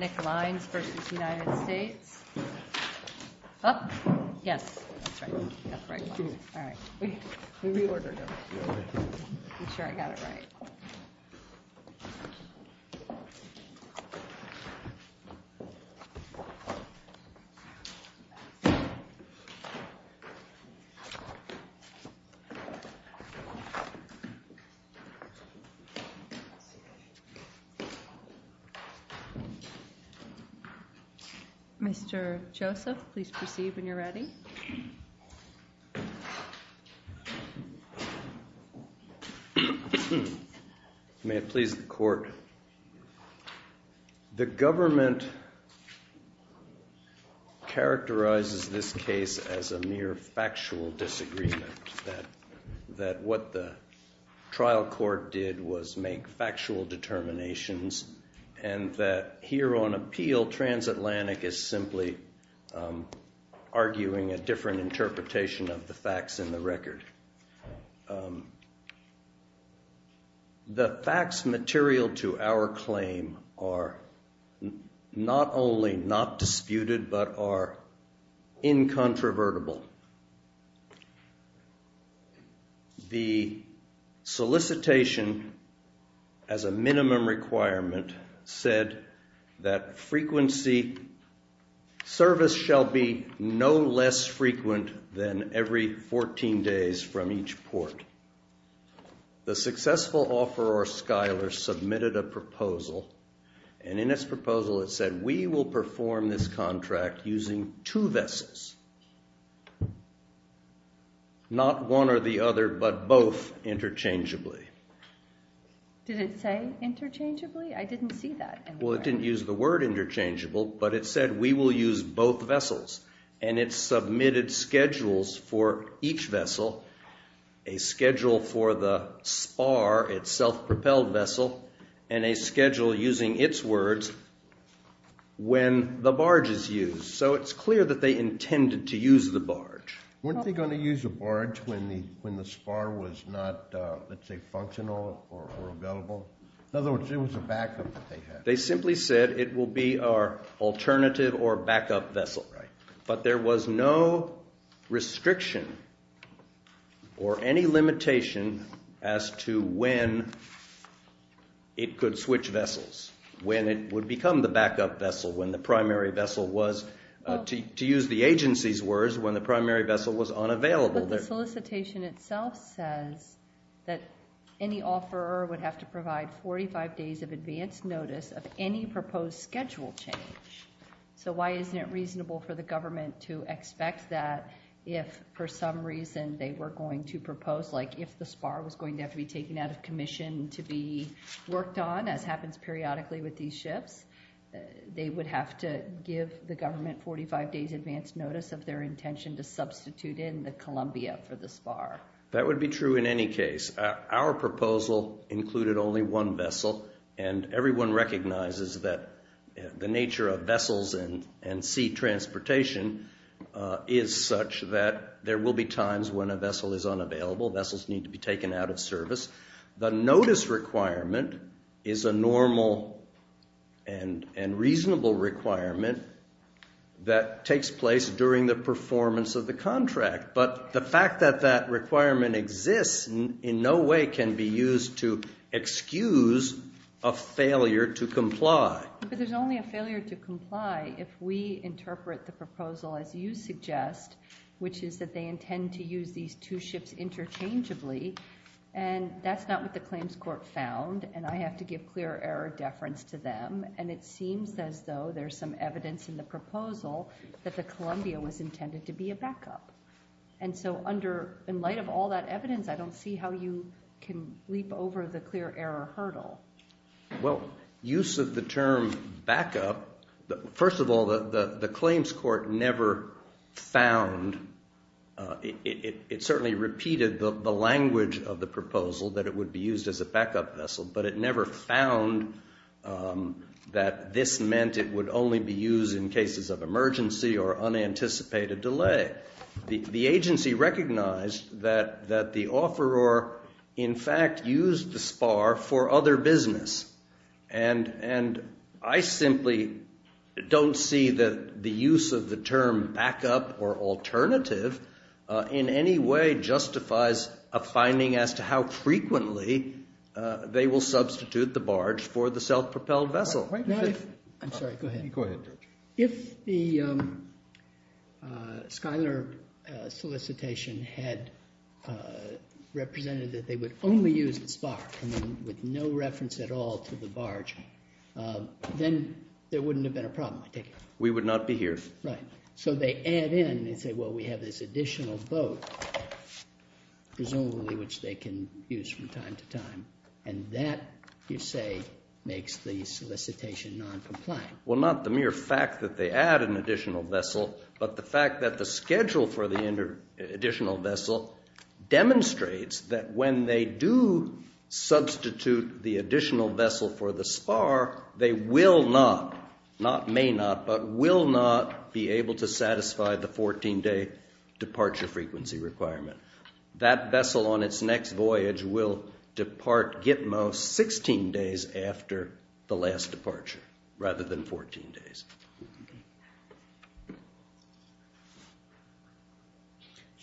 Up. Yes, that's right. All right. We reordered it. I'm sure I got it right. Mr. Joseph, please proceed when you're ready. May it please the Court. The government characterizes this case as a mere factual disagreement, that what the trial court did was make factual determinations, and that here on appeal Transatlantic is simply arguing a different interpretation of the facts in the record. The facts material to our claim are not only not disputed but are incontrovertible. The solicitation, as a minimum requirement, said that frequency service shall be no less frequent than every 14 days from each port. The successful offeror Skyler submitted a proposal, and in this proposal it said we will perform this contract using two vessels, not one or the other, but both interchangeably. Did it say interchangeably? I didn't see that. Well, it didn't use the word interchangeable, but it said we will use both vessels. And it submitted schedules for each vessel, a schedule for the spar, its self-propelled vessel, and a schedule using its words when the barge is used. So it's clear that they intended to use the barge. Weren't they going to use a barge when the spar was not, let's say, functional or available? In other words, it was a backup that they had. They simply said it will be our alternative or backup vessel. But there was no restriction or any limitation as to when it could switch vessels, when it would become the backup vessel, when the primary vessel was, to use the agency's words, when the primary vessel was unavailable. But the solicitation itself says that any offeror would have to provide 45 days of advanced notice of any proposed schedule change. So why isn't it reasonable for the government to expect that if, for some reason, they were going to propose, like if the spar was going to have to be taken out of commission to be worked on, as happens periodically with these ships, they would have to give the government 45 days advance notice of their intention to substitute in the Columbia for the spar? That would be true in any case. Our proposal included only one vessel, and everyone recognizes that the nature of vessels and sea transportation is such that there will be times when a vessel is unavailable. Vessels need to be taken out of service. The notice requirement is a normal and reasonable requirement that takes place during the performance of the contract. But the fact that that requirement exists in no way can be used to excuse a failure to comply. But there's only a failure to comply if we interpret the proposal as you suggest, which is that they intend to use these two ships interchangeably. And that's not what the claims court found, and I have to give clear error deference to them. And it seems as though there's some evidence in the proposal that the Columbia was intended to be a backup. And so in light of all that evidence, I don't see how you can leap over the clear error hurdle. Well, use of the term backup, first of all, the claims court never found, it certainly repeated the language of the proposal that it would be used as a backup vessel, but it meant it would only be used in cases of emergency or unanticipated delay. The agency recognized that the offeror, in fact, used the spar for other business. And I simply don't see that the use of the term backup or alternative in any way justifies a finding as to how frequently they will substitute the barge for the self-propelled vessel. I'm sorry, go ahead. Go ahead, Judge. If the Schuyler solicitation had represented that they would only use the spar, with no reference at all to the barge, then there wouldn't have been a problem, I take it? We would not be here. Right. So they add in, they say, well, we have this additional boat, presumably which they can use from time to time, and that, you say, makes the solicitation noncompliant. Well, not the mere fact that they add an additional vessel, but the fact that the schedule for the additional vessel demonstrates that when they do substitute the additional vessel for the spar, they will not, not may not, but will not be able to satisfy the 14-day departure frequency requirement. That vessel on its next voyage will depart Gitmo 16 days after the last departure, rather than 14 days.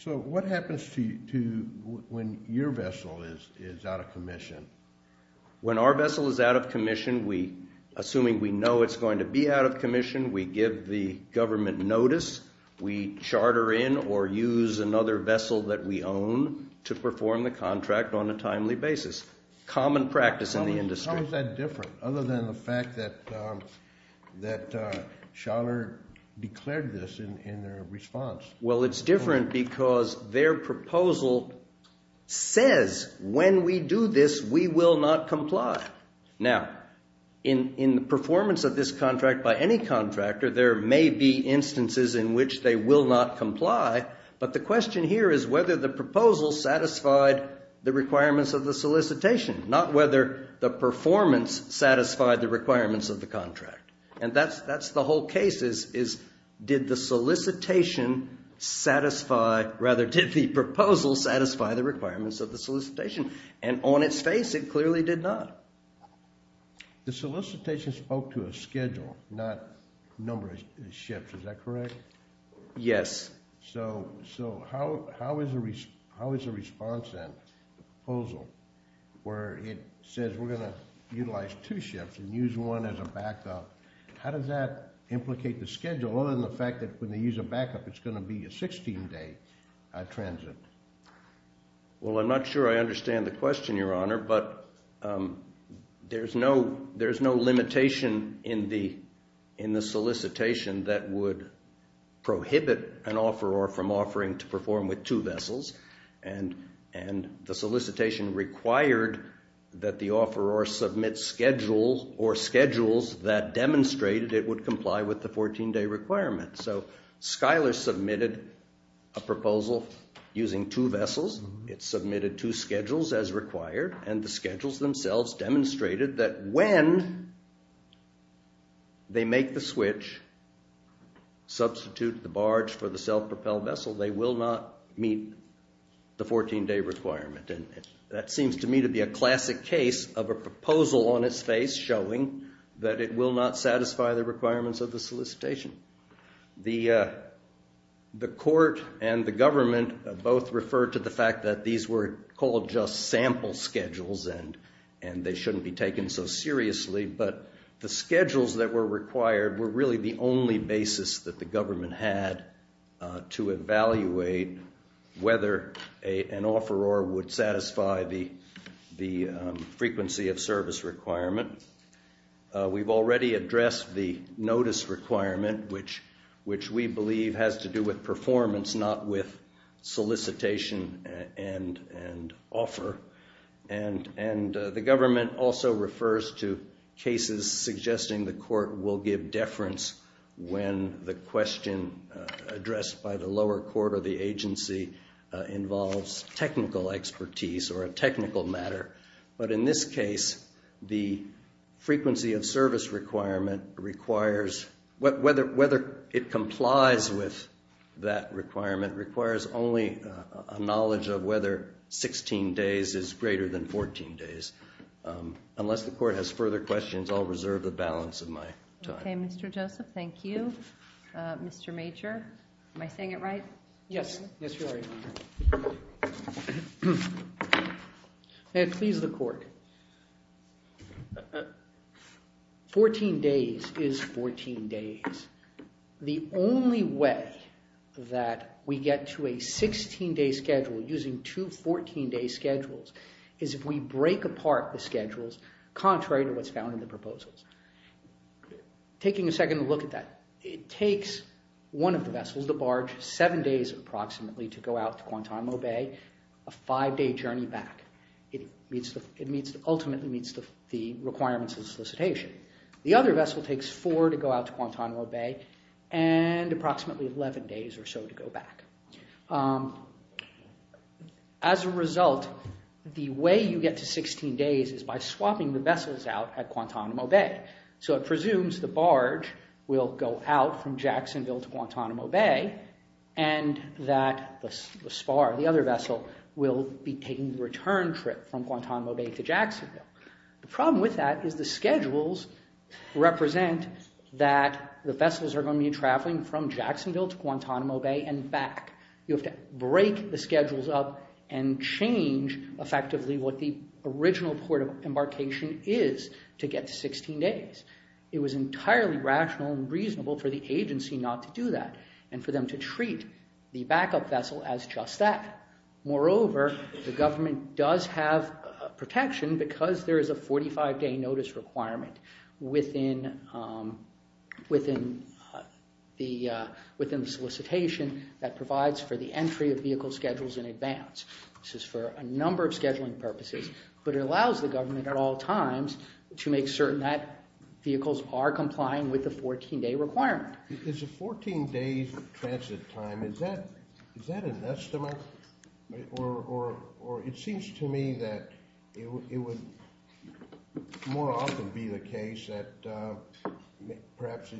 So what happens to, when your vessel is out of commission? When our vessel is out of commission, we, assuming we know it's going to be out of commission, we give the government notice, we charter in or use another vessel that we own to perform the contract on a timely basis. Common practice in the industry. How is that different, other than the fact that Schaller declared this in their response? Well, it's different because their proposal says, when we do this, we will not comply. Now, in the performance of this contract by any contractor, there may be instances in which they will not comply, but the question here is whether the proposal satisfied the requirements of the solicitation, not whether the performance satisfied the requirements of the contract. And that's the whole case, is did the solicitation satisfy, rather, did the proposal satisfy the requirements of the solicitation? And on its face, it clearly did not. The solicitation spoke to a schedule, not number of shifts, is that correct? Yes. So how is the response then, the proposal, where it says we're going to utilize two shifts and use one as a backup, how does that implicate the schedule, other than the fact that when they use a backup, it's going to be a 16-day transit? Well, I'm not sure I understand the question, Your Honor, but there's no limitation in the solicitation that would prohibit an offeror from offering to perform with two vessels, and the solicitation required that the offeror submit schedule or schedules that demonstrated it would comply with the 14-day requirement. So Schuyler submitted a proposal using two vessels, it submitted two schedules as required, and the schedules themselves demonstrated that when they make the switch, substitute the barge for the self-propelled vessel, they will not meet the 14-day requirement. That seems to me to be a classic case of a proposal on its face showing that it will not satisfy the requirements of the solicitation. The court and the government both referred to the fact that these were called just sample schedules and they shouldn't be taken so seriously, but the schedules that were required were really the only basis that the government had to evaluate whether an offeror would satisfy the frequency of service requirement. We've already addressed the notice requirement, which we believe has to do with performance, not with solicitation and offer, and the government also refers to cases suggesting the court will give deference when the question addressed by the lower court or the agency involves technical expertise or a technical matter. But in this case, the frequency of service requirement requires, whether it complies with that requirement, requires only a knowledge of whether 16 days is greater than 14 days. Unless the court has further questions, I'll reserve the balance of my time. Okay, Mr. Joseph, thank you. Mr. Major, am I saying it right? Yes, you are. May it please the court, 14 days is 14 days. The only way that we get to a 16-day schedule using two 14-day schedules is if we break apart the schedules contrary to what's found in the proposals. Taking a second to look at that, it takes one of the vessels to barge seven days approximately to go out to Guantanamo Bay, a five-day journey back. It ultimately meets the requirements of the solicitation. The other vessel takes four to go out to Guantanamo Bay and approximately 11 days or so to go back. As a result, the way you get to 16 days is by swapping the vessels out at Guantanamo Bay. It presumes the barge will go out from Jacksonville to Guantanamo Bay and that the spar, the other vessel, will be taking the return trip from Guantanamo Bay to Jacksonville. The problem with that is the schedules represent that the vessels are going to be traveling from Jacksonville to Guantanamo Bay and back. You have to break the schedules up and change effectively what the original port of embarkation is to get to 16 days. It was entirely rational and reasonable for the agency not to do that and for them to treat the backup vessel as just that. Moreover, the government does have protection because there is a 45-day notice requirement within the solicitation that provides for the entry of vehicle schedules in advance. This is for a number of scheduling purposes, but it allows the government at all times to make certain that vehicles are complying with the 14-day requirement. Is a 14-day transit time, is that an estimate or it seems to me that it would more often be the case that perhaps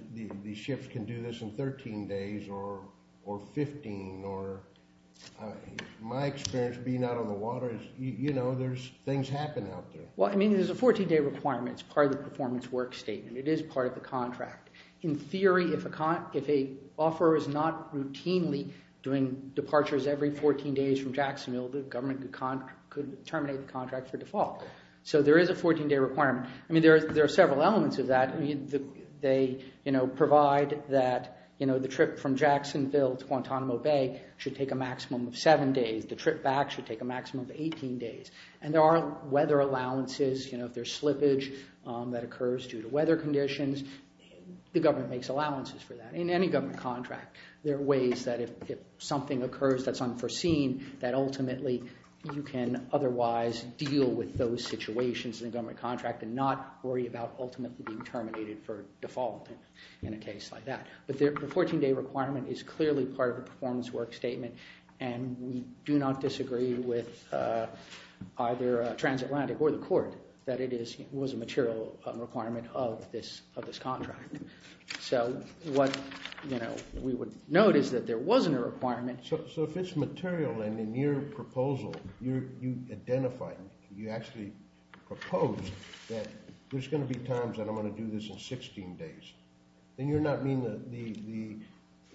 these ships can do this in 13 days or 15. My experience being out on the water is, you know, things happen out there. Well, I mean, there's a 14-day requirement. It's part of the performance work statement. It is part of the contract. In theory, if an offeror is not routinely doing departures every 14 days from Jacksonville, the government could terminate the contract for default. So there is a 14-day requirement. I mean, there are several elements of that. They, you know, provide that, you know, the trip from Jacksonville to Guantanamo Bay should take a maximum of seven days. The trip back should take a maximum of 18 days. And there are weather allowances, you know, if there's slippage that occurs due to weather conditions, the government makes allowances for that. In any government contract, there are ways that if something occurs that's unforeseen that ultimately you can otherwise deal with those situations in a government contract and not worry about ultimately being terminated for default in a case like that. But the 14-day requirement is clearly part of the performance work statement and we do not disagree with either Transatlantic or the court that it was a material requirement of this contract. So what, you know, we would note is that there wasn't a requirement. So if it's material and in your proposal you identified, you actually proposed that there's going to be times that I'm going to do this in 16 days, then you're not meeting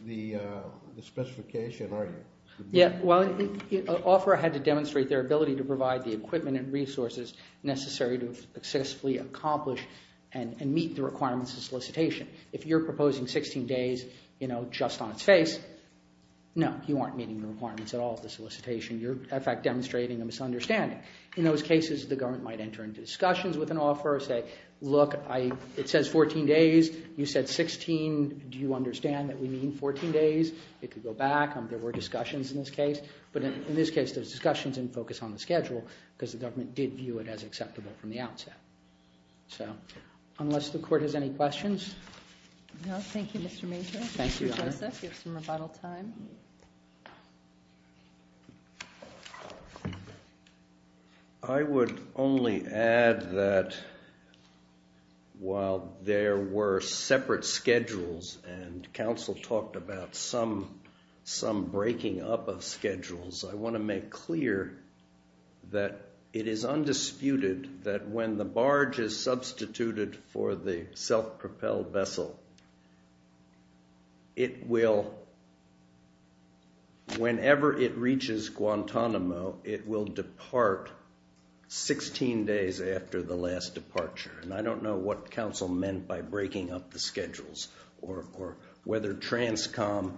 the specification, are you? Yeah, well, OFRA had to demonstrate their ability to provide the equipment and resources necessary to successfully accomplish and meet the requirements of solicitation. If you're proposing 16 days, you know, just on its face, no, you aren't meeting the requirements at all of the solicitation. You're, in fact, demonstrating a misunderstanding. In those cases, the government might enter into discussions with an OFRA and say, look, it says 14 days. You said 16. Do you understand that we need 14 days? It could go back. There were discussions in this case. But in this case, those discussions didn't focus on the schedule because the government did view it as acceptable from the outset. So unless the court has any questions. No. Thank you, Mr. Major. Thank you, Your Honor. Mr. Joseph, you have some rebuttal time. I would only add that while there were separate schedules and counsel talked about some breaking up of schedules, I want to make clear that it is undisputed that when the barge is substituted for the self-propelled vessel, it will, whenever it reaches Guantanamo, it will depart 16 days after the last departure. And I don't know what counsel meant by breaking up the schedules or whether TRANSCOM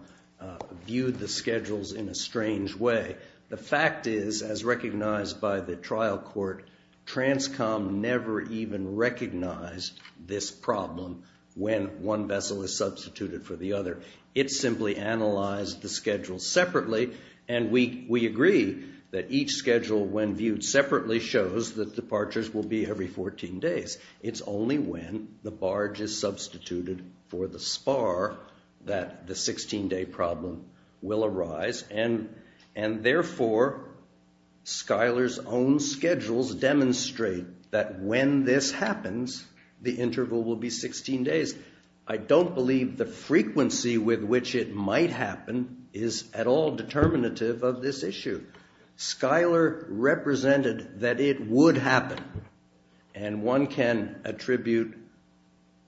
viewed the schedules in a strange way. The fact is, as recognized by the trial court, TRANSCOM never even recognized this problem when one vessel is substituted for the other. It simply analyzed the schedule separately. And we agree that each schedule, when viewed separately, shows that departures will be every 14 days. It's only when the barge is substituted for the spar that the 16-day problem will arise. And therefore, Schuyler's own schedules demonstrate that when this happens, the interval will be 16 days. I don't believe the frequency with which it might happen is at all determinative of this issue. Schuyler represented that it would happen. And one can attribute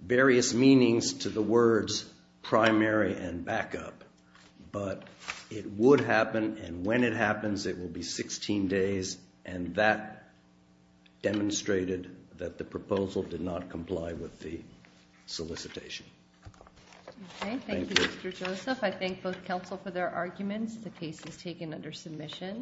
various meanings to the words primary and backup. But it would happen, and when it happens, it will be 16 days. And that demonstrated that the proposal did not comply with the solicitation. Okay, thank you, Mr. Joseph. I thank both counsel for their arguments. The case is taken under submission.